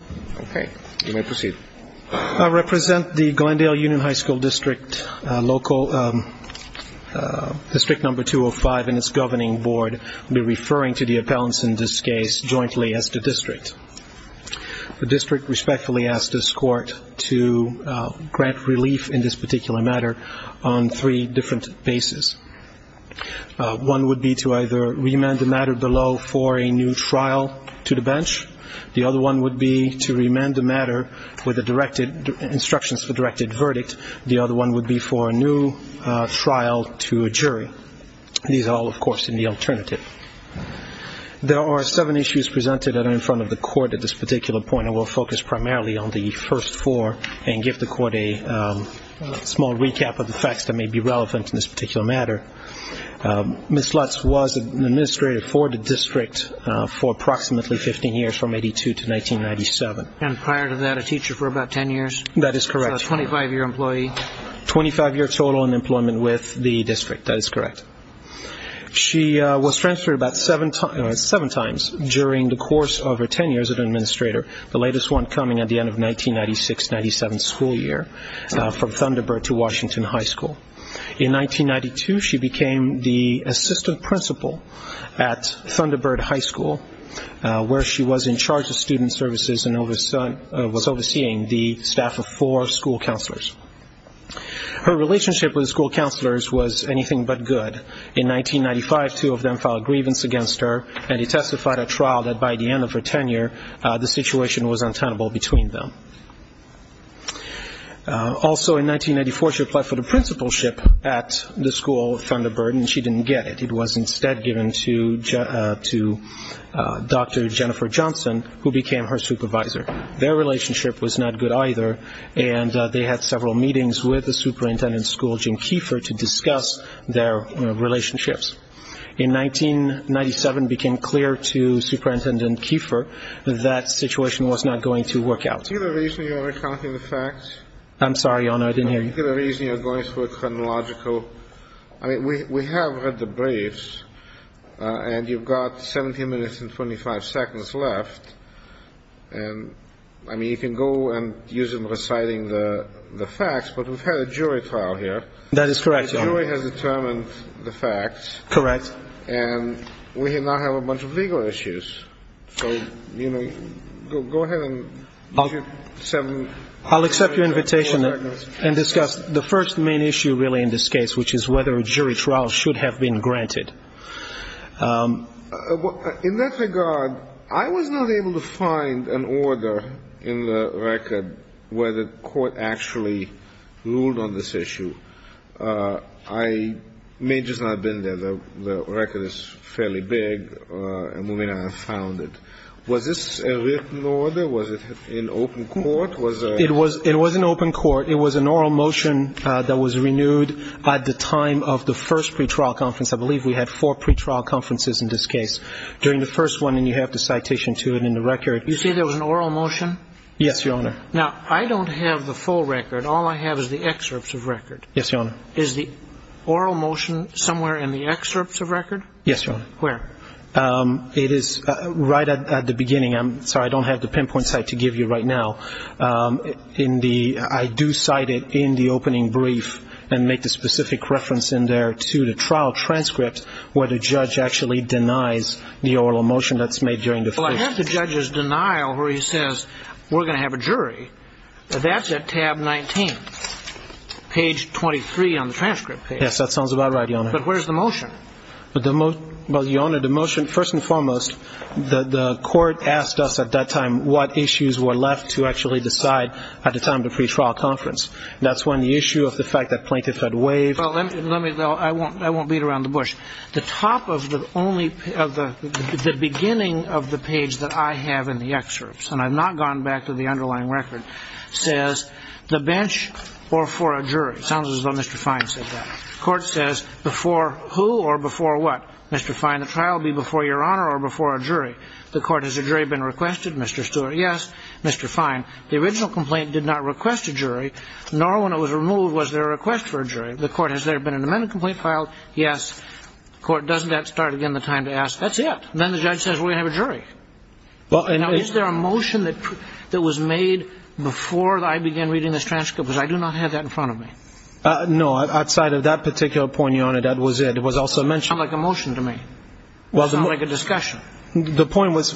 I represent the Glendale Union High School District, District No. 205 and its Governing Board. I will be referring to the appellants in this case jointly as the district. The district respectfully asks this Court to grant relief in this particular matter on three different bases. One would be to either remand the matter below for a new trial to the bench. The other one would be to remand the matter with instructions for directed verdict. The other one would be for a new trial to a jury. These are all, of course, in the alternative. There are seven issues presented that are in front of the Court at this particular point. I will focus primarily on the first four and give the Court a small recap of the facts that may be relevant in this particular matter. Ms. Lutz was an administrator for the district for approximately 15 years from 1982 to 1997. And prior to that a teacher for about 10 years? That is correct. So a 25-year employee? 25-year total in employment with the district. That is correct. She was transferred about seven times during the course of her tenure as an administrator, the latest one coming at the end of 1996-97 school year from Thunderbird to Washington High School. In 1992, she became the assistant principal at Thunderbird High School, where she was in charge of student services and was overseeing the staff of four school counselors. Her relationship with the school counselors was anything but good. In 1995, two of them filed a grievance against her, and he testified at trial that by the end of her tenure the situation was untenable between them. Also in 1994, she applied for the principalship at the school of Thunderbird, and she didn't get it. It was instead given to Dr. Jennifer Johnson, who became her supervisor. Their relationship was not good either, and they had several meetings with the superintendent of the school, Jim Kiefer, to discuss their relationships. In 1997, it became clear to Superintendent Kiefer that the situation was not going to work out. I see the reason you're recounting the facts. I'm sorry, Your Honor, I didn't hear you. I see the reason you're going through a chronological. I mean, we have read the briefs, and you've got 17 minutes and 25 seconds left. And, I mean, you can go and use them reciting the facts, but we've had a jury trial here. That is correct, Your Honor. The jury has determined the facts. Correct. And we now have a bunch of legal issues. So, you know, go ahead and give seven minutes. I'll accept your invitation and discuss the first main issue really in this case, which is whether a jury trial should have been granted. In that regard, I was not able to find an order in the record where the court actually ruled on this issue. I may just not have been there. The record is fairly big, and we may not have found it. Was this a written order? Was it in open court? It was in open court. It was an oral motion that was renewed at the time of the first pretrial conference. I believe we had four pretrial conferences in this case during the first one, and you have the citation to it in the record. You say there was an oral motion? Yes, Your Honor. Now, I don't have the full record. All I have is the excerpts of record. Yes, Your Honor. Is the oral motion somewhere in the excerpts of record? Yes, Your Honor. Where? It is right at the beginning. I'm sorry, I don't have the pinpoint site to give you right now. I do cite it in the opening brief and make the specific reference in there to the trial transcript where the judge actually denies the oral motion that's made during the first. Well, I have the judge's denial where he says, we're going to have a jury. That's at tab 19. Page 23 on the transcript page. Yes, that sounds about right, Your Honor. But where's the motion? Well, Your Honor, the motion, first and foremost, the court asked us at that time what issues were left to actually decide at the time of the pretrial conference. That's when the issue of the fact that plaintiff had waived. I won't beat around the bush. The beginning of the page that I have in the excerpts, and I've not gone back to the underlying record, says the bench or for a jury. It sounds as though Mr. Fine said that. The court says before who or before what? Mr. Fine, the trial will be before Your Honor or before a jury. The court, has a jury been requested? Mr. Stewart, yes. Mr. Fine, the original complaint did not request a jury, nor when it was removed was there a request for a jury. The court, has there been an amendment complaint filed? Yes. The court, doesn't that start again the time to ask? That's it. Then the judge says, we're going to have a jury. Now, is there a motion that was made before I began reading this transcript? Because I do not have that in front of me. No, outside of that particular point, Your Honor, that was it. It was also mentioned. It doesn't sound like a motion to me. It doesn't sound like a discussion. The point was,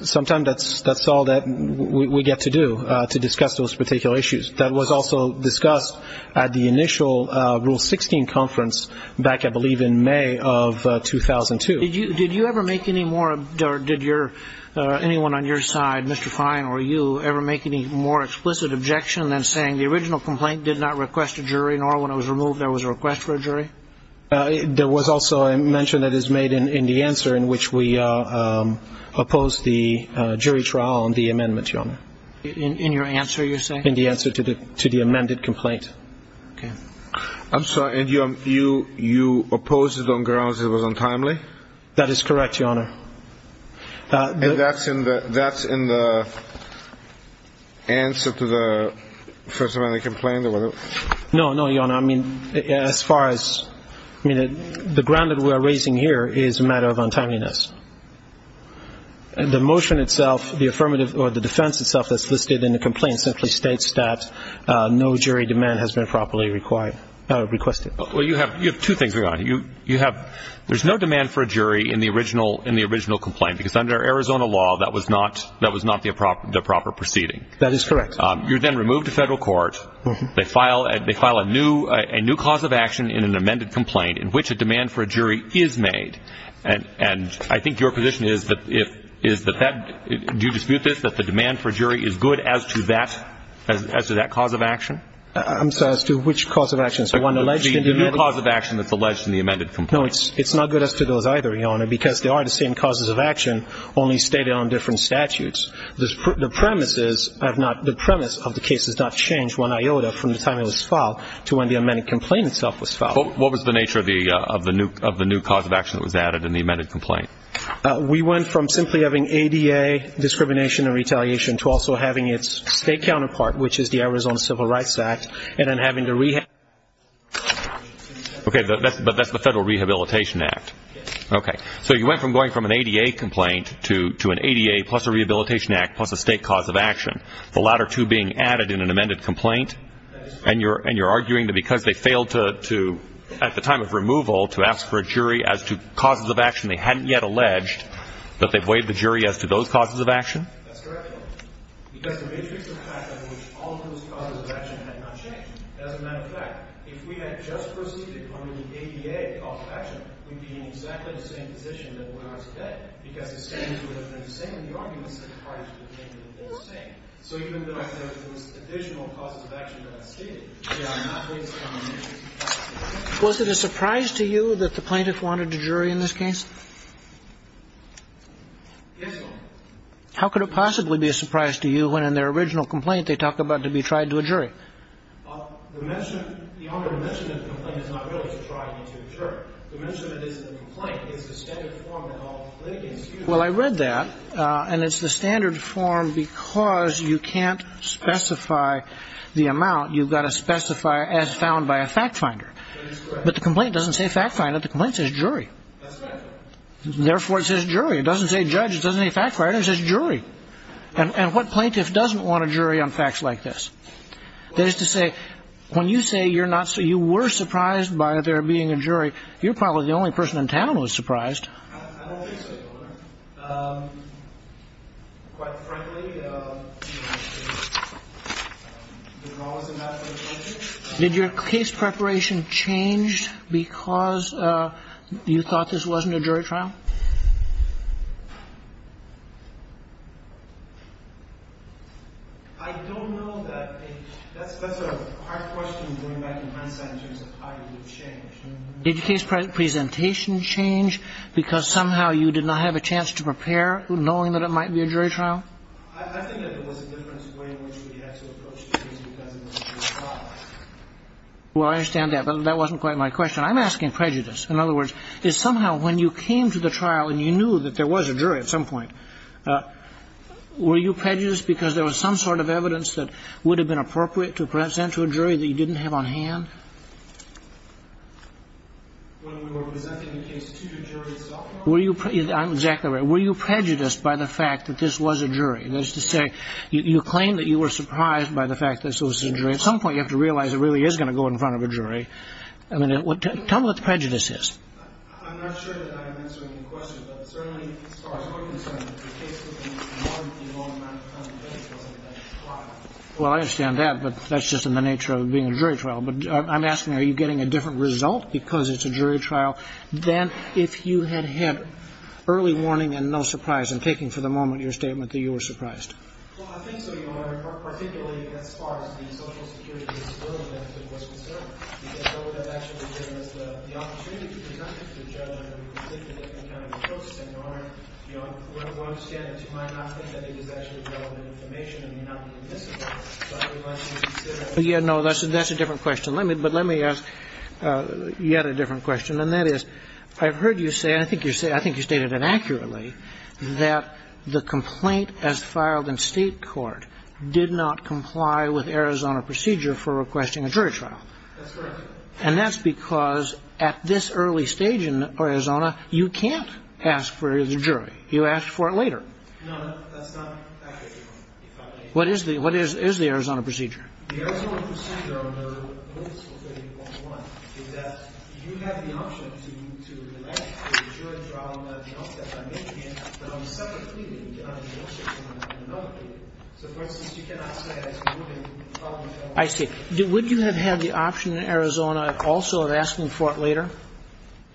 sometimes that's all that we get to do, to discuss those particular issues. That was also discussed at the initial Rule 16 conference back, I believe, in May of 2002. Did you ever make any more, or did anyone on your side, Mr. Fine or you, ever make any more explicit objection than saying the original complaint did not request a jury, nor when it was removed there was a request for a jury? There was also a mention that is made in the answer in which we opposed the jury trial on the amendment, Your Honor. In your answer, you're saying? In the answer to the amended complaint. Okay. I'm sorry. And you opposed it on grounds it was untimely? That is correct, Your Honor. And that's in the answer to the first amendment complaint? No, no, Your Honor. I mean, as far as, I mean, the ground that we are raising here is a matter of untimeliness. The motion itself, the affirmative, or the defense itself that's listed in the complaint simply states that no jury demand has been properly requested. Well, you have two things, Your Honor. You have, there's no demand for a jury in the original complaint, because under Arizona law, that was not the proper proceeding. That is correct. You're then removed to federal court. They file a new cause of action in an amended complaint in which a demand for a jury is made. And I think your position is that that, do you dispute this, that the demand for a jury is good as to that cause of action? I'm sorry, as to which cause of action? The new cause of action that's alleged in the amended complaint. No, it's not good as to those either, Your Honor, because they are the same causes of action, only stated on different statutes. The premise is, I have not, the premise of the case has not changed one iota from the time it was filed to when the amended complaint itself was filed. What was the nature of the new cause of action that was added in the amended complaint? We went from simply having ADA discrimination and retaliation to also having its state counterpart, which is the Arizona Civil Rights Act, and then having to re- Okay, but that's the Federal Rehabilitation Act. Yes. Okay. So you went from going from an ADA complaint to an ADA plus a Rehabilitation Act plus a state cause of action, the latter two being added in an amended complaint, and you're arguing that because they failed to, at the time of removal, to ask for a jury as to causes of action they hadn't yet alleged, that they've waived the jury as to those causes of action? That's correct, Your Honor, because the matrix of fact under which all those causes of action had not changed. As a matter of fact, if we had just proceeded under the ADA cause of action, we'd be in exactly the same position that we are today, because the standards would have been the same and the arguments would have been the same. So even though there are those additional causes of action that are stated, they are not waived. Was it a surprise to you that the plaintiff wanted a jury in this case? Yes, Your Honor. How could it possibly be a surprise to you when in their original complaint they talk about to be tried to a jury? Your Honor, the mention of the complaint is not really to try to a jury. The mention that it's a complaint is the standard form that all plaintiffs use. Well, I read that, and it's the standard form because you can't specify the amount. You've got to specify as found by a fact finder. That is correct. But the complaint doesn't say fact finder. The complaint says jury. That's correct, Your Honor. Therefore, it says jury. It doesn't say judge. It doesn't say fact finder. It says jury. And what plaintiff doesn't want a jury on facts like this? That is to say, when you say you were surprised by there being a jury, you're probably the only person in town who was surprised. I don't think so, Your Honor. Quite frankly, there's always a matter of logic. Did your case preparation change because you thought this wasn't a jury trial? I don't know that. That's a hard question to bring back in hindsight in terms of how it would have changed. Did your case presentation change because somehow you did not have a chance to prepare, knowing that it might be a jury trial? I think that there was a difference in the way in which we had to approach the case because it was a jury trial. Well, I understand that, but that wasn't quite my question. I'm asking prejudice. In other words, is somehow when you came to the trial and you knew that there was a jury at some point, were you prejudiced because there was some sort of evidence that would have been appropriate to present to a jury that you didn't have on hand? When we were presenting the case to the jury itself? I'm exactly right. Were you prejudiced by the fact that this was a jury? That is to say, you claim that you were surprised by the fact that this was a jury. At some point, you have to realize it really is going to go in front of a jury. I mean, tell me what the prejudice is. I'm not sure that I am answering your question, but certainly as far as my concern, the case was going to be more than the amount of time it takes to go to the next trial. Well, I understand that, but that's just in the nature of being a jury trial. But I'm asking, are you getting a different result because it's a jury trial than if you had had early warning and no surprise and taking for the moment your statement that you were surprised? Well, I think so, Your Honor. Particularly as far as the social security disability was concerned. What would have actually been is the opportunity to present it to the judge under a particular kind of a process. And, Your Honor, you know, one understands you might not think that it is actually relevant information and may not be admissible. Yeah, no, that's a different question. But let me ask yet a different question. And that is, I've heard you say, and I think you stated it accurately, that the complaint as filed in state court did not comply with Arizona procedure for requesting a jury trial. That's correct. And that's because at this early stage in Arizona, you can't ask for the jury. You ask for it later. No, that's not accurate, Your Honor. What is the Arizona procedure? I see. Would you have had the option in Arizona also of asking for it later?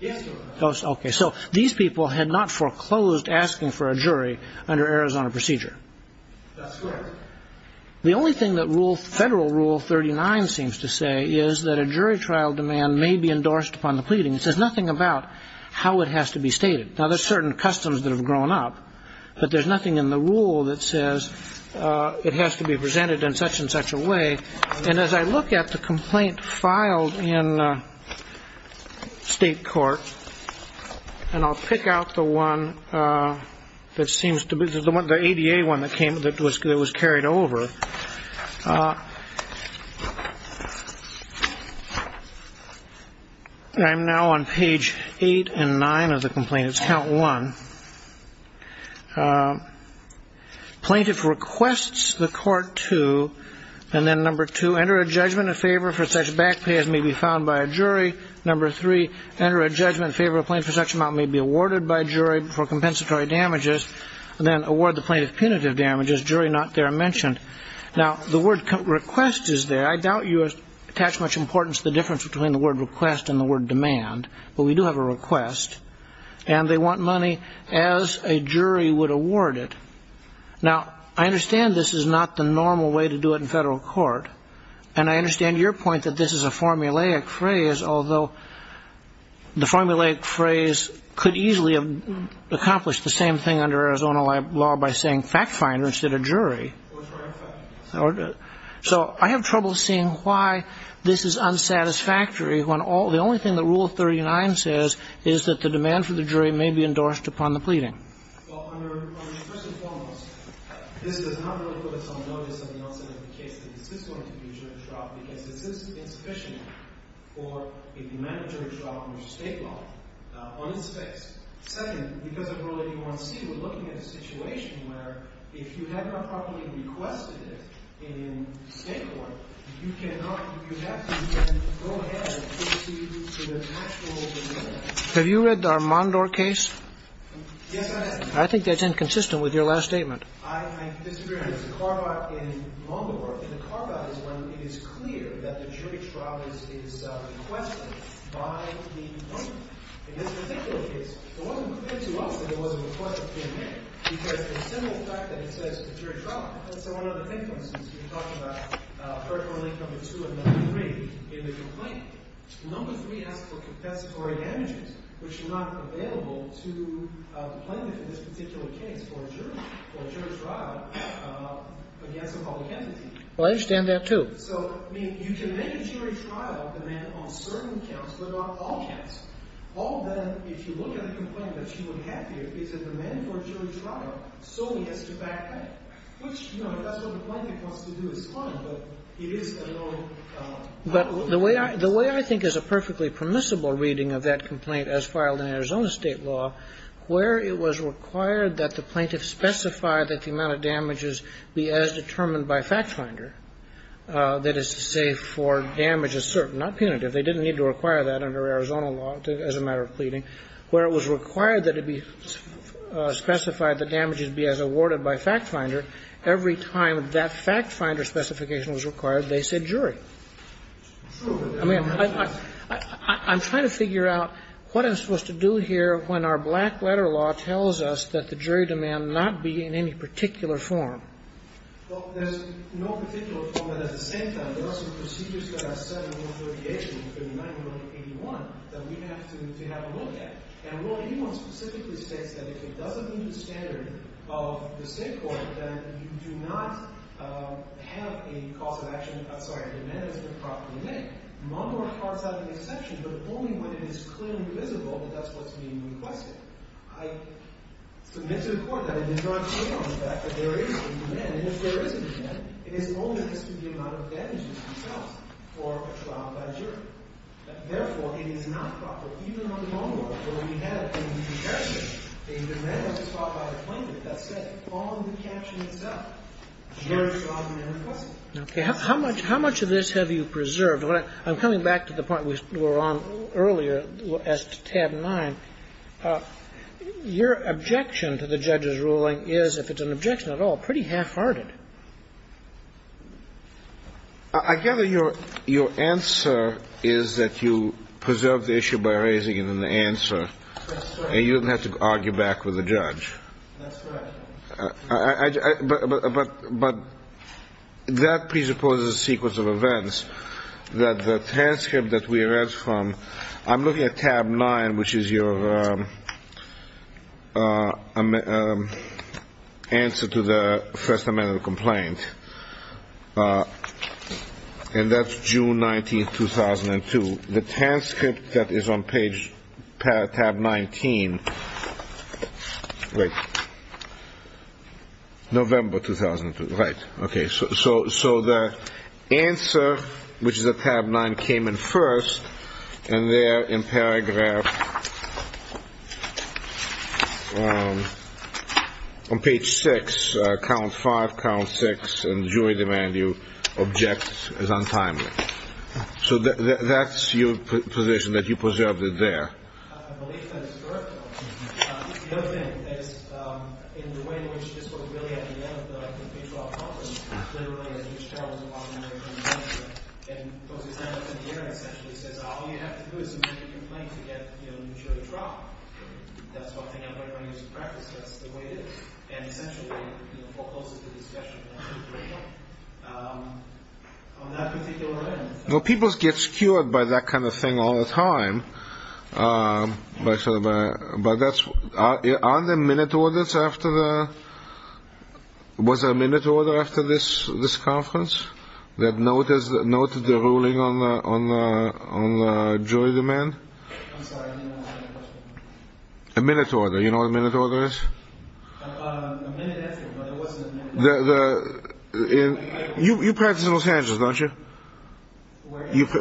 Yes, Your Honor. Okay. So these people had not foreclosed asking for a jury under Arizona procedure. That's correct. The only thing that Federal Rule 39 seems to say is that a jury trial demand may be endorsed upon the pleading. It says nothing about how it has to be stated. Now, there's certain customs that have grown up, but there's nothing in the rule that says it has to be presented in such and such a way. And as I look at the complaint filed in state court, and I'll pick out the one that seems to be the ADA one that was carried over. I'm now on page eight and nine of the complaint. It's count one. Plaintiff requests the court to, and then number two, enter a judgment in favor for such back pay as may be found by a jury. Number three, enter a judgment in favor of plaintiff for such amount may be awarded by jury for compensatory damages, then award the plaintiff punitive damages, jury not there mentioned. Now, the word request is there. I doubt you attach much importance to the difference between the word request and the word demand, but we do have a request. And they want money as a jury would award it. Now, I understand this is not the normal way to do it in federal court. And I understand your point that this is a formulaic phrase, although the formulaic phrase could easily have accomplished the same thing under Arizona law by saying fact finder instead of jury. So I have trouble seeing why this is unsatisfactory when the only thing that rule 39 says is that the demand for the jury may be endorsed upon the pleading. Have you read our Mondor case? I think that's inconsistent with your last statement. I disagree on this. The carbide in Mondor, the carbide is when it is clear that the jury trial is requested by the owner. In this particular case, it wasn't clear to us that it was a request that came in because of the simple fact that it says the jury trial. That's where one other thing comes in. Number three asks for compensatory damages, which are not available to the plaintiff in this particular case for a jury trial against a public entity. Well, I understand that, too. So, I mean, you can make a jury trial demand on certain counts, but not all counts. All of them, if you look at a complaint that she would have to give, it's a demand for a jury trial. So he has to back out, which, you know, if that's what the plaintiff wants to do, it's fine, but it is a little. But the way I think is a perfectly permissible reading of that complaint as filed in Arizona state law, where it was required that the plaintiff specify that the amount of damages be as determined by fact finder. That is to say for damage assert, not punitive. They didn't need to require that under Arizona law as a matter of pleading. Where it was required that it be specified that damages be as awarded by fact finder, every time that fact finder specification was required, they said jury. I mean, I'm trying to figure out what I'm supposed to do here when our black letter law tells us that the jury demand not be in any particular form. Well, there's no particular form, but at the same time, there are some procedures that are set in the authorization in 59 and 181 that we have to have a look at. And rule 81 specifically states that if it doesn't meet the standard of the state court, then you do not have a cause of action, I'm sorry, a demand that's been properly made. Montgomery Park's not the exception, but only when it is clearly visible that that's what's being requested. I submit to the Court that it does not take on the fact that there is a demand. And if there isn't a demand, it is only as to the amount of damages itself for a trial by jury. Therefore, it is not proper. Even on the long law, where we have in the exception a demand that is brought by a plaintiff, that's set on the caption itself. A jury's job is to request it. Okay. How much of this have you preserved? I'm coming back to the point we were on earlier as to tab 9. Your objection to the judge's ruling is, if it's an objection at all, pretty half-hearted. I gather your answer is that you preserved the issue by raising it in the answer and you didn't have to argue back with the judge. That's correct. But that presupposes a sequence of events. The transcript that we read from, I'm looking at tab 9, which is your answer to the First Amendment complaint, and that's June 19, 2002. The transcript that is on tab 19, November 2002. Right. Okay. So the answer, which is at tab 9, came in first. And there in paragraph, on page 6, count 5, count 6, and jury demand you object is untimely. So that's your position, that you preserved it there. I believe that it's correct. The other thing is, in the way in which this was really at the end of the pre-trial process, literally, as each trial was a lot longer than the first one, and those examiners in the hearing essentially says, all you have to do is submit your complaint to get maturity trial. That's what came up in my years of practice. That's the way it is. And essentially, forecloses the discussion. People get skewered by that kind of thing all the time. Aren't there minute orders after the, was there a minute order after this conference that noted the ruling on the jury demand? I'm sorry, I didn't understand your question. A minute order, you know what a minute order is? A minute after, but it wasn't a minute order. You practice in Los Angeles, don't you?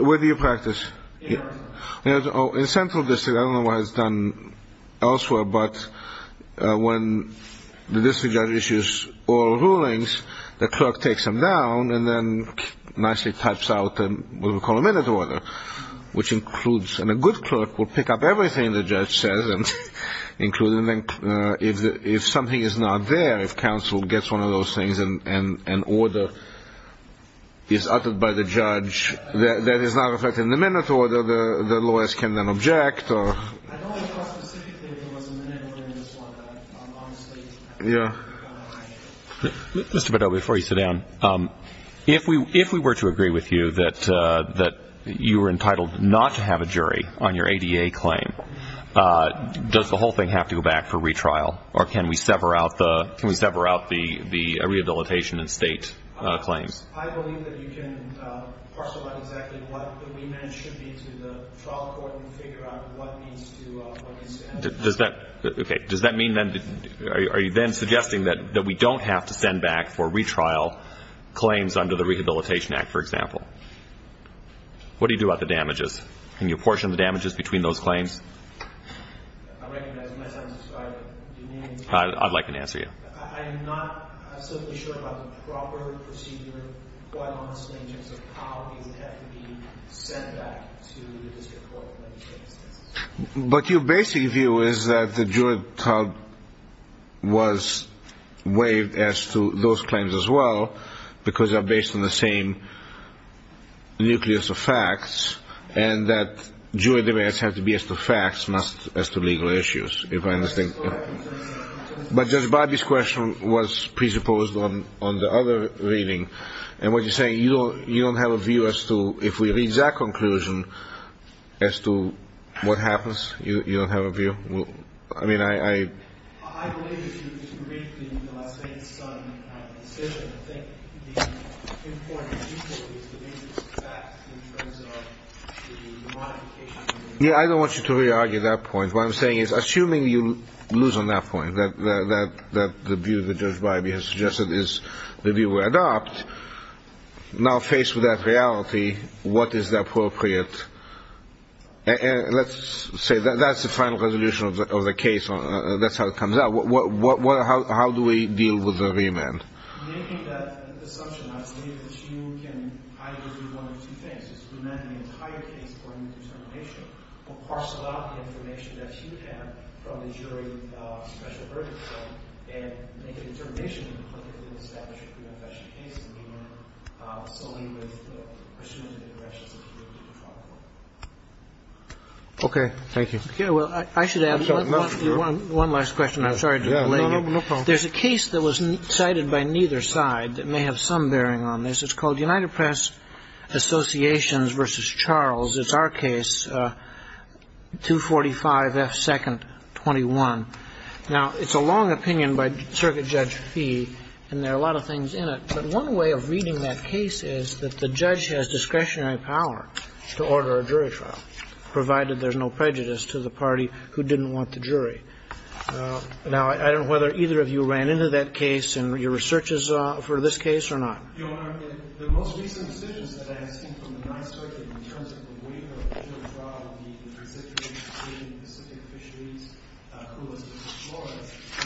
Where do you practice? In Arkansas. Oh, in Central District. I don't know what it's done elsewhere, but when the district judge issues oral rulings, the clerk takes them down and then nicely types out what we call a minute order, which includes, and a good clerk will pick up everything the judge says, including if something is not there, if counsel gets one of those things and an order is uttered by the judge that is not reflected in the minute order, the lawyers can then object. I don't recall specifically if there was a minute order in this one, but I'm honestly kind of high-handed. Mr. Beddoe, before you sit down, if we were to agree with you that you were entitled not to have a jury on your ADA claim, does the whole thing have to go back for retrial, or can we sever out the rehabilitation and state claims? I believe that you can parcel out exactly what the remand should be to the trial court and figure out what needs to be sent back. Okay. Does that mean then, are you then suggesting that we don't have to send back for retrial claims under the Rehabilitation Act, for example? What do you do about the damages? Can you apportion the damages between those claims? I recognize my time is expired. I'd like an answer here. I'm not certainly sure about the proper procedure, but I'm honestly in terms of how these have to be sent back to the district court. But your basic view is that the jury trial was waived as to those claims as well, because they're based on the same nucleus of facts, and that jury debates have to be as to facts, not as to legal issues, if I understand correctly. But Judge Bobby's question was presupposed on the other reading, and what you're saying is you don't have a view as to, if we read that conclusion, as to what happens? You don't have a view? I mean, I... I believe if you read the Las Vegas Sun decision, I think the important utility is the basis of facts in terms of the modification. Yeah, I don't want you to re-argue that point. What I'm saying is, assuming you lose on that point, that the view that Judge Bobby has suggested is the view we adopt, now faced with that reality, what is the appropriate... Let's say that's the final resolution of the case. That's how it comes out. How do we deal with the remand? Making that assumption that you can either do one of two things, one of two things is to remand the entire case according to determination or parcel out the information that you have from the jury special burden claim and make a determination to publicly establish a pre-confession case and begin solely with the presumptive interest of the jury to control the court. Okay. Thank you. Okay. Well, I should add one last question. I'm sorry to delay you. No problem. There's a case that was cited by neither side that may have some bearing on this. It's called United Press Associations v. Charles. It's our case, 245F221. Now, it's a long opinion by Circuit Judge Fee, and there are a lot of things in it, but one way of reading that case is that the judge has discretionary power to order a jury trial, provided there's no prejudice to the party who didn't want the jury. Now, I don't know whether either of you ran into that case in your researches for this case or not. Your Honor, the most recent decisions that I have seen from the Ninth Circuit in terms of the waiver of the jury trial of the Trans-Siberian and Pacific fisheries,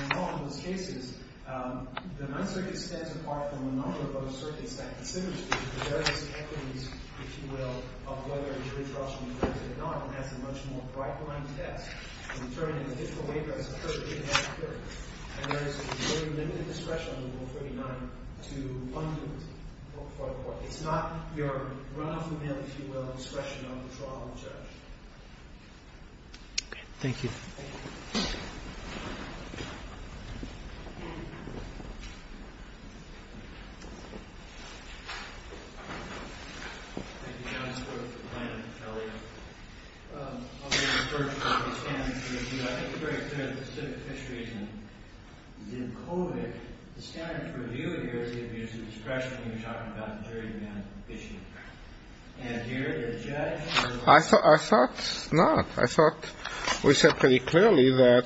and all of those cases, the Ninth Circuit stands apart from a number of other circuits that considers the various equities, if you will, of whether jury trials should be conducted or not. The jury trial has a much more bright-lined task of determining the different waivers of the various equities. And there is very limited discretion under Rule 39 to fund it for the court. It's not your run-off-the-mill, if you will, discretion on the trial of the judge. Thank you. I thought not. I thought we said pretty clearly that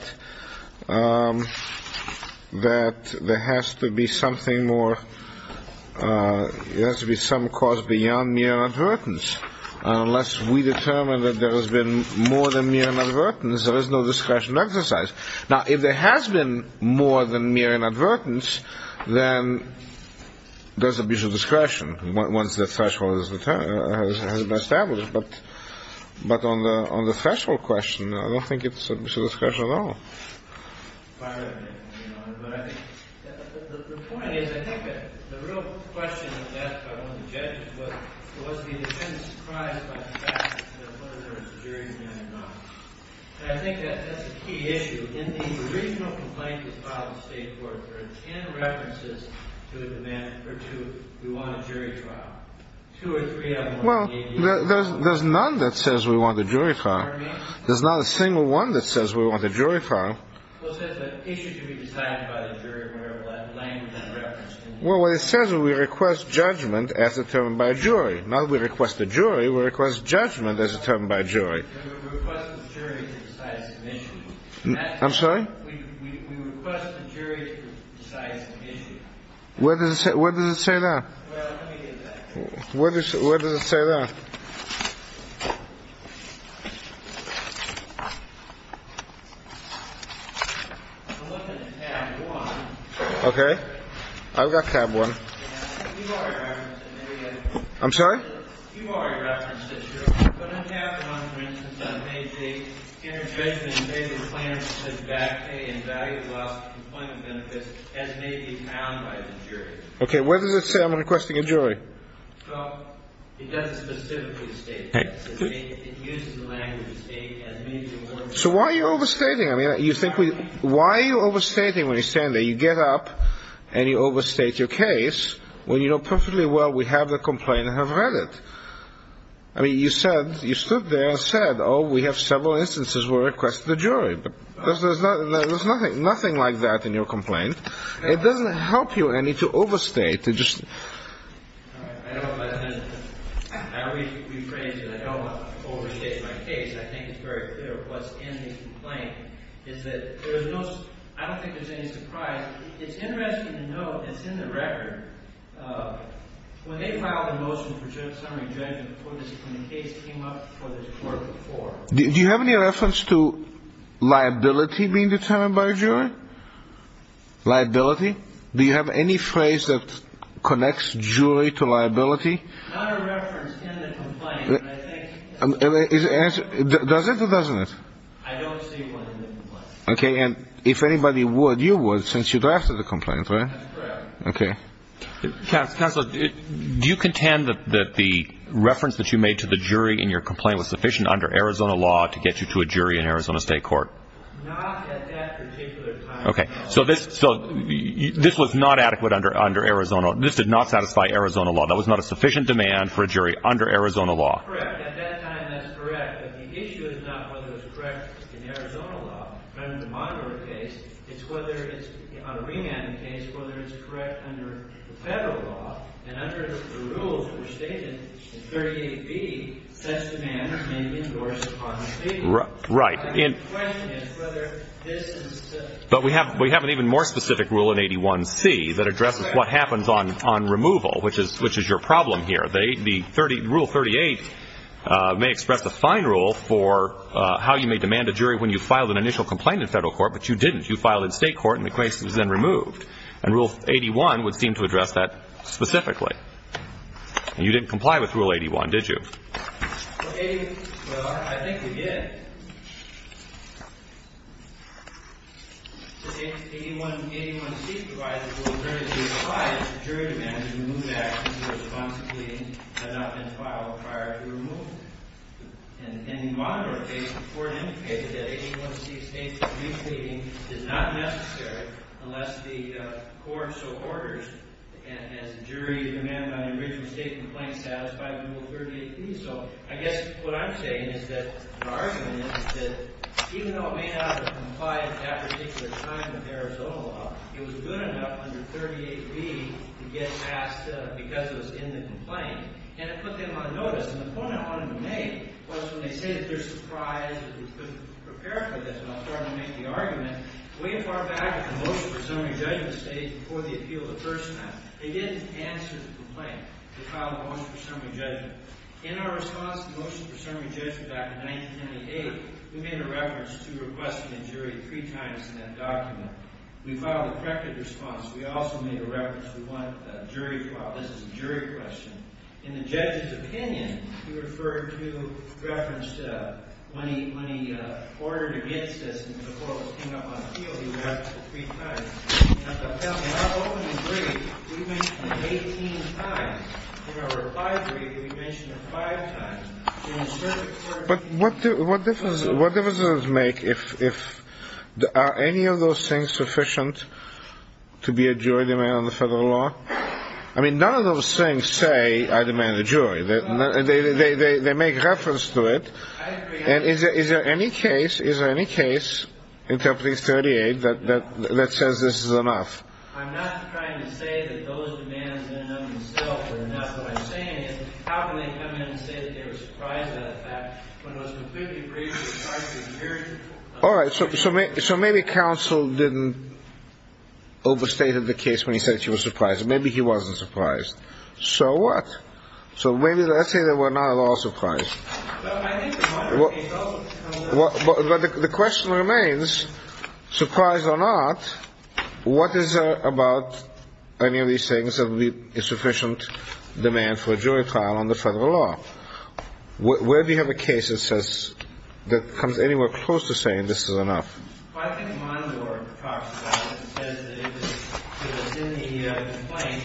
there has to be something more, there has to be some cause beyond mere inadvertence. Unless we determine that there has been more than mere inadvertence, there is no discretion to exercise. Now, if there has been more than mere inadvertence, then there's a bit of discretion once the threshold has been established. But on the threshold question, I don't think it's a discretion at all. Well, there's none that says we want a jury trial. There's not a single one that says we want a jury trial. Well, it says that the issue should be decided by the jury in whatever language and reference. Well, what it says is we request judgment as determined by a jury. Not that we request a jury. We request judgment as determined by a jury. We request the jury to decide it's an issue. I'm sorry? We request the jury to decide it's an issue. Where does it say that? Well, let me get that. Where does it say that? Okay. I've got tab one. I'm sorry? You already referenced it, sir. But on tab one, for instance, I made the interjudgment in favor of the plaintiff's bad pay and value-loss complaint benefits as may be found by the jury. Okay. Where does it say I'm requesting a jury? Well, it doesn't specifically state that. It uses the language state as may be found by the jury. So why are you overstating? I mean, you think we why are you overstating when you stand there? You get up and you overstate your case. Well, you know perfectly well we have the complaint and have read it. I mean, you said, you stood there and said, oh, we have several instances where we request the jury. There's nothing like that in your complaint. It doesn't help you, I mean, to overstate. I always rephrase it. I don't overstate my case. I think it's very clear what's in the complaint. I don't think there's any surprise. It's interesting to note it's in the record. When they filed a motion for summary judgment before this, when the case came up before this court before. Do you have any reference to liability being determined by a jury? Liability? Do you have any phrase that connects jury to liability? Not a reference in the complaint. Does it or doesn't it? I don't see one in the complaint. Okay. And if anybody would, you would since you drafted the complaint, right? That's correct. Okay. Counselor, do you contend that the reference that you made to the jury in your complaint was sufficient under Arizona law to get you to a jury in Arizona State Court? Not at that particular time. Okay. So this was not adequate under Arizona. This did not satisfy Arizona law. That was not a sufficient demand for a jury under Arizona law. Correct. At that time, that's correct. But the issue is not whether it's correct in Arizona law. Under my case, it's whether it's, on a remand case, whether it's correct under the federal law. And under the rules that were stated in 38B, such demands may be endorsed upon the state. Right. The question is whether this is specific. But we have an even more specific rule in 81C that addresses what happens on removal, which is your problem here. Rule 38 may express the fine rule for how you may demand a jury when you filed an initial complaint in federal court, but you didn't. You filed in state court, and the case was then removed. And Rule 81 would seem to address that specifically. And you didn't comply with Rule 81, did you? Well, I think we did. Because 81C provides the opportunity to apply if the jury demands a removal action to a responsibility that had not been filed prior to removal. And in the monitor case, the court indicated that 81C states that re-pleading is not necessary unless the court so orders, and as the jury demanded on the original state complaint satisfied, to remove Rule 38B. So I guess what I'm saying is that the argument is that even though it may not have complied at that particular time with Arizona law, it was good enough under 38B to get passed because it was in the complaint. And it put them on notice. And the point I wanted to make was when they say that they're surprised that we couldn't prepare for this, and I'll start to make the argument, way far back at the motion for summary judgment stage before the appeal of the first time, they didn't answer the complaint. They filed a motion for summary judgment. In our response to the motion for summary judgment back in 1998, we made a reference to requesting a jury three times in that document. We filed a corrective response. We also made a reference. We want a jury trial. This is a jury question. In the judge's opinion, he referred to reference to when he ordered against us and the court was coming up on appeal, he referenced it three times. Now, in our opening brief, we mentioned it 18 times. In our reply brief, we mentioned it five times. But what difference does it make if are any of those things sufficient to be a jury demand on the federal law? I mean, none of those things say I demand a jury. They make reference to it. And is there any case, interpreting 38, that says this is enough? I'm not trying to say that those demands end up in the cell. Now, what I'm saying is how can they come in and say that they were surprised by the fact when it was a completely previous charge to the jury? All right. So maybe counsel didn't overstate the case when he said she was surprised. Maybe he wasn't surprised. So what? So maybe let's say they were not at all surprised. But I think in one case also. But the question remains, surprised or not, what is it about any of these things that would be a sufficient demand for a jury trial on the federal law? Where do you have a case that says, that comes anywhere close to saying this is enough? Well, I think Mondor talks about it. He says that it was in the complaint.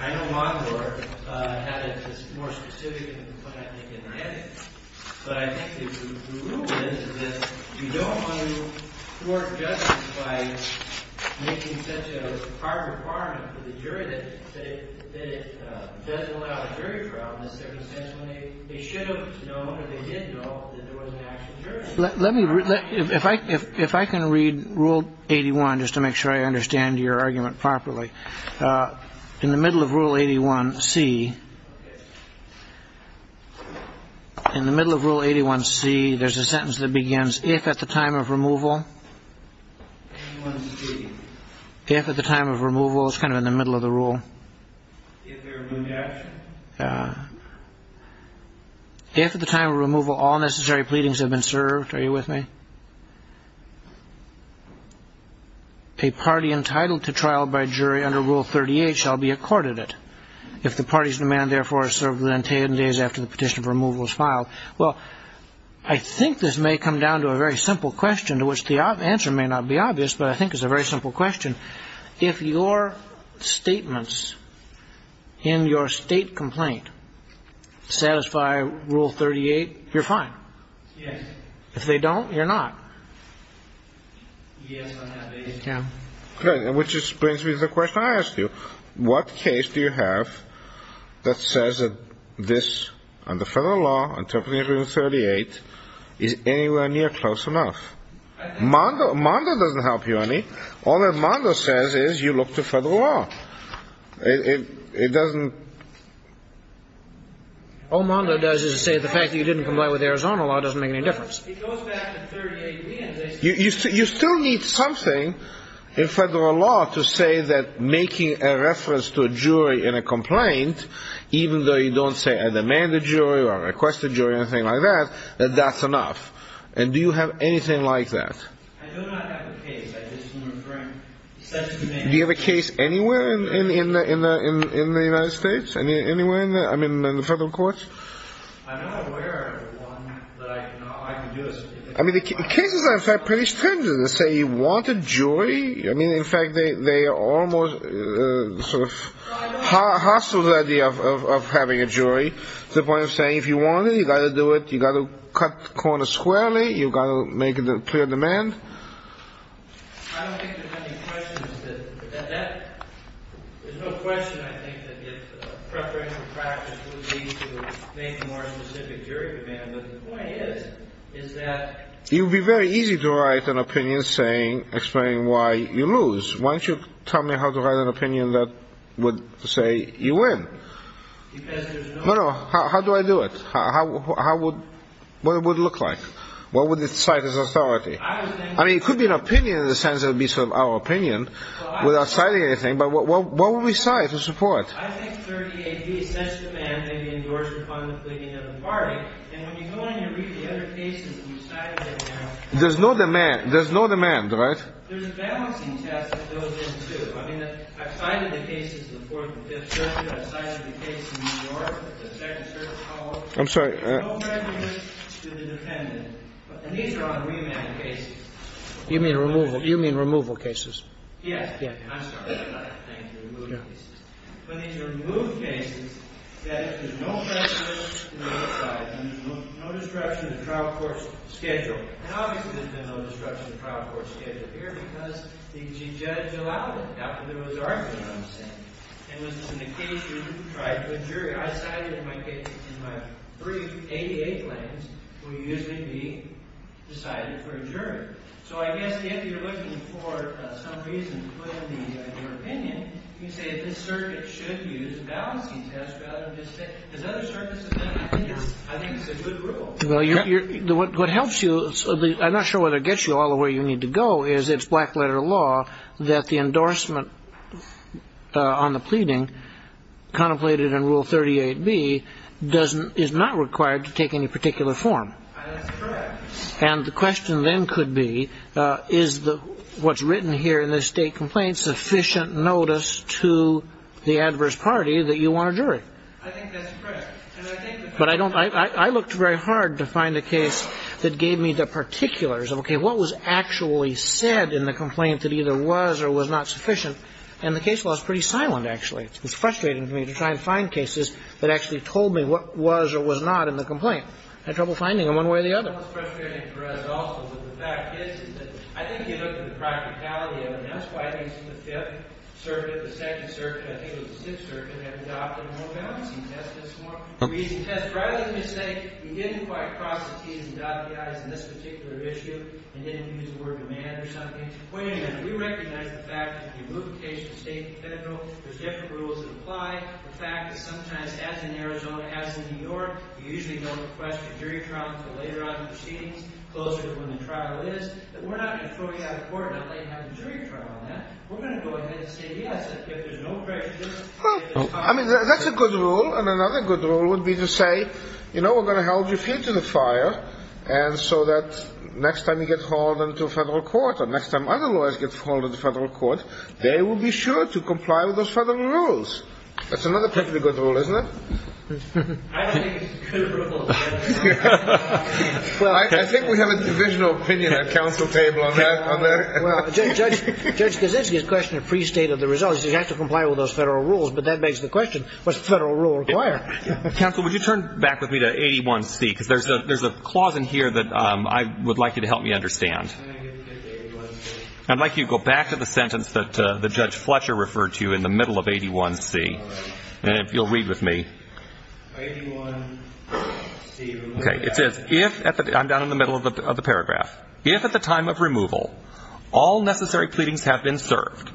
I know Mondor had a more specific complaint, I think, in Redding. But I think the rule is that you don't want to court justice by making such a hard requirement for the jury that it doesn't allow a jury trial in the circumstance when they should have known or they did know that there was an actual jury. If I can read Rule 81 just to make sure I understand your argument properly. In the middle of Rule 81C, in the middle of Rule 81C, there's a sentence that begins, if at the time of removal, if at the time of removal, it's kind of in the middle of the rule. If at the time of removal, all necessary pleadings have been served, are you with me? A party entitled to trial by jury under Rule 38 shall be accorded it. If the party's demand, therefore, is served within 10 days after the petition for removal is filed. Well, I think this may come down to a very simple question to which the answer may not be obvious, but I think it's a very simple question. If your statements in your state complaint satisfy Rule 38, you're fine. Yes. If they don't, you're not. Yes, I'm happy. Yeah. Which brings me to the question I asked you. What case do you have that says that this, under federal law, interpreted in Rule 38, is anywhere near close enough? Mondo doesn't help you any. All that Mondo says is you look to federal law. It doesn't... All Mondo does is say the fact that you didn't comply with Arizona law doesn't make any difference. You still need something in federal law to say that making a reference to a jury in a complaint, even though you don't say I demand a jury or request a jury or anything like that, that that's enough. And do you have anything like that? Do you have a case anywhere in the United States? Anywhere in the federal courts? I'm not aware of one that I can do a... I mean, the cases are, in fact, pretty stringent. They say you want a jury. I mean, in fact, they are almost sort of hostile to the idea of having a jury to the point of saying, if you want it, you've got to do it. You've got to cut corners squarely. You've got to make it a clear demand. I don't think there's any questions to that. There's no question, I think, that preparation practice would lead to maybe a more specific jury demand. But the point is, is that... It would be very easy to write an opinion saying, explaining why you lose. Why don't you tell me how to write an opinion that would say you win? Because there's no... No, no. How do I do it? How would... What would it look like? What would it cite as authority? I mean, it could be an opinion in the sense that it would be sort of our opinion without citing anything. But what would we cite as support? There's no demand, right? I'm sorry. You mean removal cases. Yes. So I guess if you're looking for some reason to put in your opinion, you say this circuit should use a balancing test rather than just... Because other circuits have done that. I think it's a good rule. What helps you... I'm not sure whether it gets you all the way you need to go, is it's black-letter law that the endorsement on the pleading contemplated in Rule 38B is not required to take any particular form. That's correct. And the question then could be, is what's written here in this state complaint sufficient notice to the adverse party that you want a jury? I think that's correct. But I looked very hard to find a case that gave me the particulars of, okay, what was actually said in the complaint that either was or was not sufficient? And the case law is pretty silent, actually. It's frustrating to me to try and find cases that actually told me what was or was not in the complaint. I had trouble finding them one way or the other. We didn't quite cross the T's and dot the I's in this particular issue and didn't use the word demand or something. Wait a minute. We recognize the fact that you move the case from state to federal. There's different rules that apply. The fact is sometimes, as in Arizona, as in New York, you usually don't request a jury trial until later on in proceedings, closer to when the trial is. But we're not going to throw you out of court and not let you have a jury trial on that. We're going to go ahead and say, yes, if there's no pressure. I mean, that's a good rule. And another good rule would be to say, you know, we're going to hold you free to the fire. And so that next time you get called into a federal court or next time other lawyers get hold of the federal court, they will be sure to comply with those federal rules. That's another perfectly good rule, isn't it? I think we have a divisional opinion at council table on that. Well, Judge Kaczynski's question is pre-state of the result. He says you have to comply with those federal rules. But that begs the question, what's the federal rule require? Counsel, would you turn back with me to 81C? Because there's a clause in here that I would like you to help me understand. I'd like you to go back to the sentence that Judge Fletcher referred to in the middle of 81C. And if you'll read with me. Okay. I'm down in the middle of the paragraph. If at the time of removal all necessary pleadings have been served,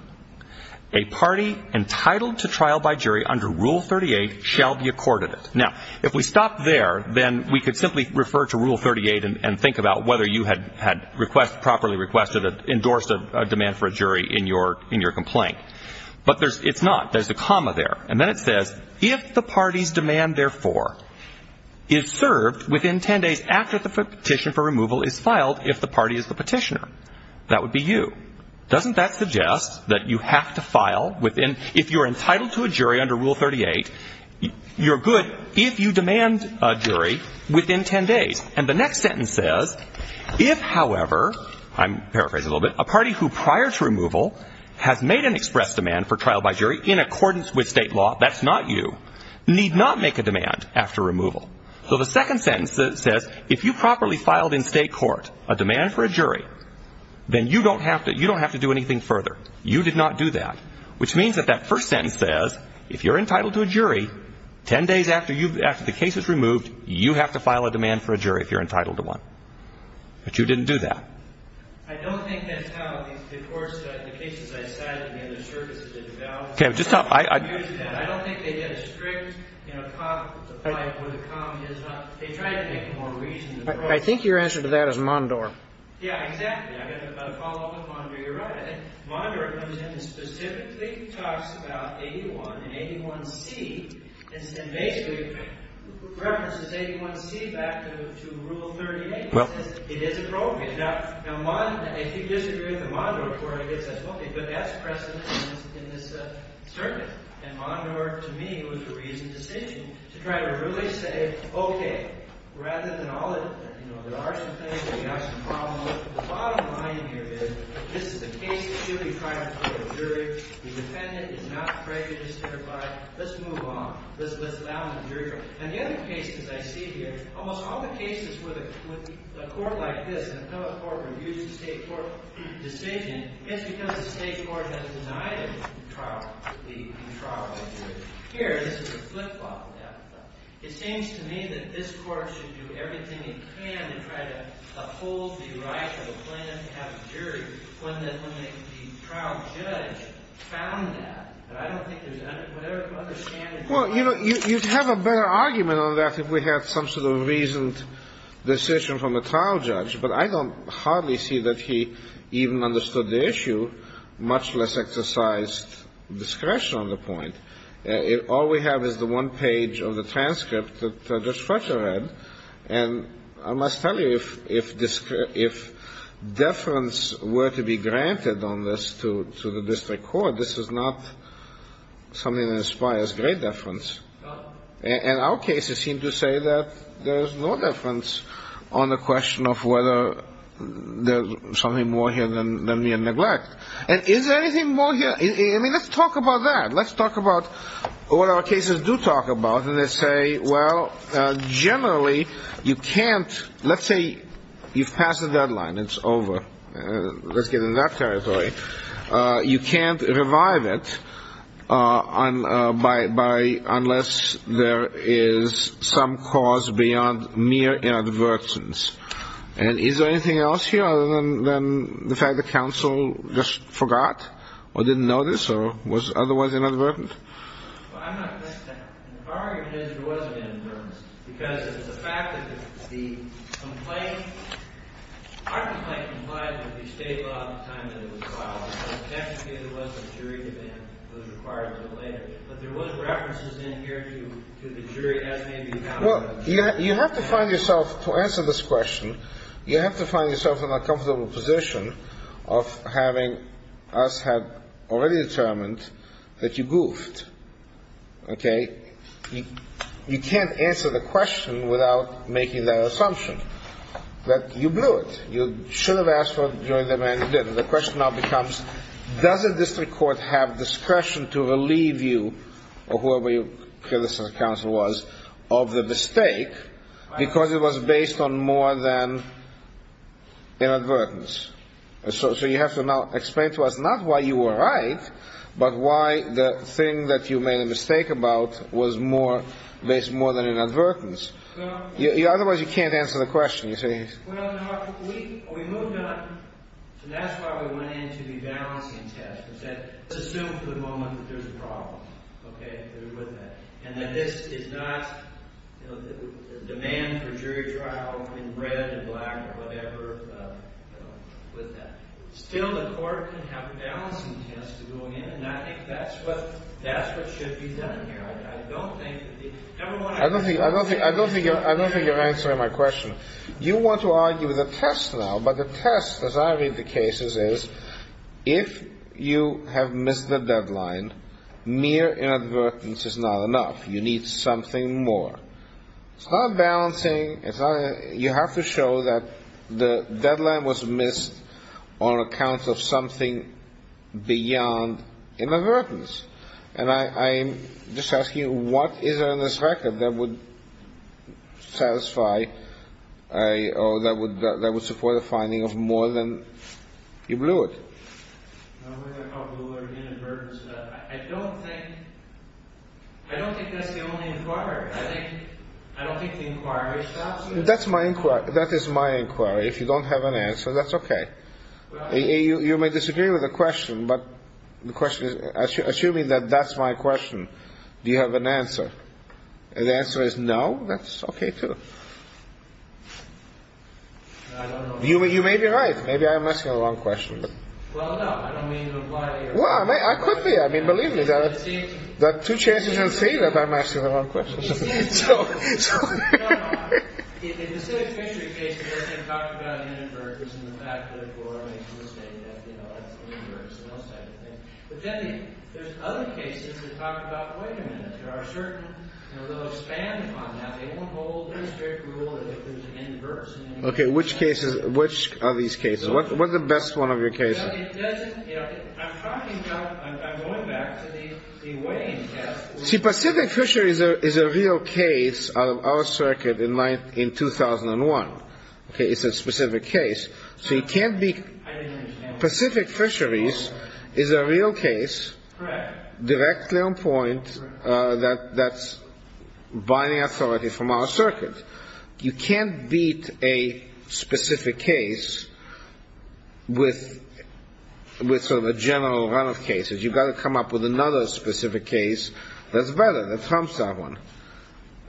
a party entitled to trial by jury under Rule 38 shall be accorded it. Now, if we stop there, then we could simply refer to Rule 38 and think about whether you had properly requested, endorsed a demand for a jury in your complaint. But it's not. There's a comma there. And then it says, if the party's demand, therefore, is served within 10 days after the petition for removal is filed, if the party is the petitioner, that would be you. Doesn't that suggest that you have to file within, if you're entitled to a jury under Rule 38, you're good if you demand a jury within 10 days. And the next sentence says, if, however, I'm paraphrasing a little bit, a party who prior to removal has made an express demand for trial by jury in accordance with state law, that's not you, need not make a demand after removal. So the second sentence says, if you properly filed in state court a demand for a jury, then you don't have to, you don't have to do anything further. You did not do that. Which means that that first sentence says, if you're entitled to a jury, 10 days after the case is removed, you have to file a demand for a jury if you're entitled to one. But you didn't do that. I think your answer to that is Mondor. Yeah, exactly. I've got a follow-up with Mondor. You're right. I think Mondor comes in and specifically talks about 81 and 81C, and basically references 81C back to Rule 38. One, if you disagree with the Mondor court, it says, OK, but that's precedent in this circuit. And Mondor, to me, was a reasoned decision to try to really say, OK, rather than all the, you know, there are some things, we have some problems. The bottom line here is, this is a case that should be tried before a jury. The defendant is not prejudiced hereby. Let's move on. Let's allow the jury trial. And the other case, as I see here, almost all the cases with a court like this, an appellate court reviews the state court decision, it's because the state court has denied it to the trial jury. Here, this is a flip-flop. It seems to me that this court should do everything it can to try to uphold the right of a plaintiff to have a jury when the trial judge found that. But I don't think there's an understanding. Well, you know, you'd have a better argument on that if we had some sort of reasoned decision from the trial judge. But I don't hardly see that he even understood the issue, much less exercised discretion on the point. All we have is the one page of the transcript that Judge Fletcher read. And I must tell you, if deference were to be granted on this to the district court, this is not something that inspires great deference. And our cases seem to say that there is no deference on the question of whether there's something more here than mere neglect. And is there anything more here? I mean, let's talk about that. Let's talk about what our cases do talk about. And they say, well, generally, you can't ‑‑ let's say you've passed the deadline. It's over. Let's get into that territory. You can't revive it unless there is some cause beyond mere inadvertence. And is there anything else here other than the fact that counsel just forgot or didn't notice or was otherwise inadvertent? Well, I'm not going to say that. The argument is there was a bit of inadvertence because of the fact that the complaint ‑‑ our complaint complied with the state law at the time that it was filed. So technically, there was a jury demand that was required until later. But there was references in here to the jury as may be found in the jury. You have to find yourself, to answer this question, you have to find yourself in a comfortable position of having us have already determined that you goofed. Okay? You can't answer the question without making that assumption that you blew it. You should have asked for a jury demand you didn't. The question now becomes, does the district court have discretion to relieve you or whoever your predecessor counsel was of the mistake because it was based on more than inadvertence? So you have to now explain to us not why you were right, but why the thing that you made a mistake about was based more than inadvertence. Otherwise, you can't answer the question. We moved on. That's why we went into the balancing test. Assume for the moment that there's a problem. Okay? And that this is not a demand for jury trial in red or black or whatever with that. Still, the court can have a balancing test to go in. And I think that's what should be done here. I don't think you're answering my question. You want to argue the test now. But the test, as I read the cases, is if you have missed the deadline, mere inadvertence is not enough. You need something more. It's not balancing. You have to show that the deadline was missed on account of something beyond inadvertence. And I'm just asking, what is it on this record that would satisfy or that would support a finding of more than you blew it? I don't think that's the only inquiry. I don't think the inquiry stops you. That is my inquiry. If you don't have an answer, that's okay. You may disagree with the question. But the question is, assuming that that's my question, do you have an answer? The answer is no. That's okay, too. You may be right. Maybe I'm asking the wrong question. Well, I could be. I mean, believe me, there are two chances you'll see that I'm asking the wrong question. Okay. Which cases? Which are these cases? What's the best one of your cases? I'm going back to the weighing test. See, Pacific Fisheries is a real case out of our circuit in 2001. Okay? It's a specific case. So you can't be – I didn't understand. Pacific Fisheries is a real case. Correct. Directly on point. That's binding authority from our circuit. You can't beat a specific case with sort of a general run of cases. You've got to come up with another specific case that's better, that trumps that one.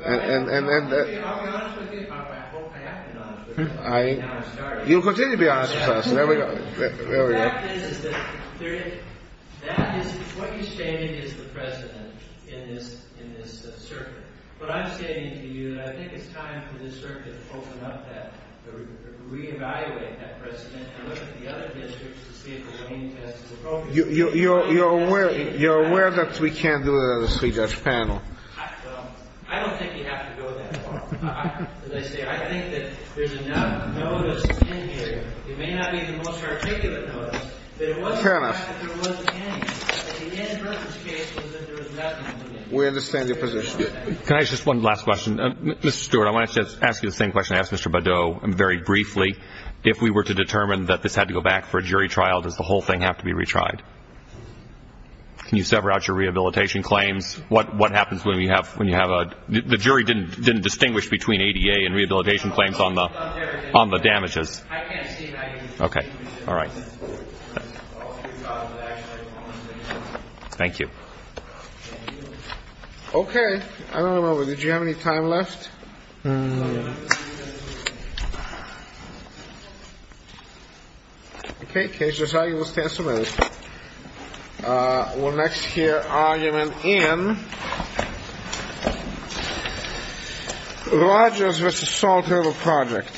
I'll be honest with you. I hope I have been honest with you. You'll continue to be honest with us. There we go. The fact is that what you're stating is the precedent in this circuit. But I'm stating to you that I think it's time for this circuit to open up that, re-evaluate that precedent, and look at the other districts to see if the weighing test is appropriate. You're aware that we can't do it on the three-judge panel? I don't think you have to go that far. As I say, I think that there's enough notice in here. It may not be the most articulate notice, but it was the fact that there was a case, that the end purpose case was that there was nothing in it. We understand your position. Can I ask just one last question? Mr. Stewart, I want to ask you the same question I asked Mr. Badeau very briefly. If we were to determine that this had to go back for a jury trial, does the whole thing have to be retried? Can you sever out your rehabilitation claims? What happens when you have a – the jury didn't distinguish between ADA and rehabilitation claims on the damages. I can't see that. Okay. All right. Thank you. Okay. I don't remember. Did you have any time left? No. Okay. Case decided. We'll stand for a minute. We'll next hear argument in Rogers v. Salt River Project.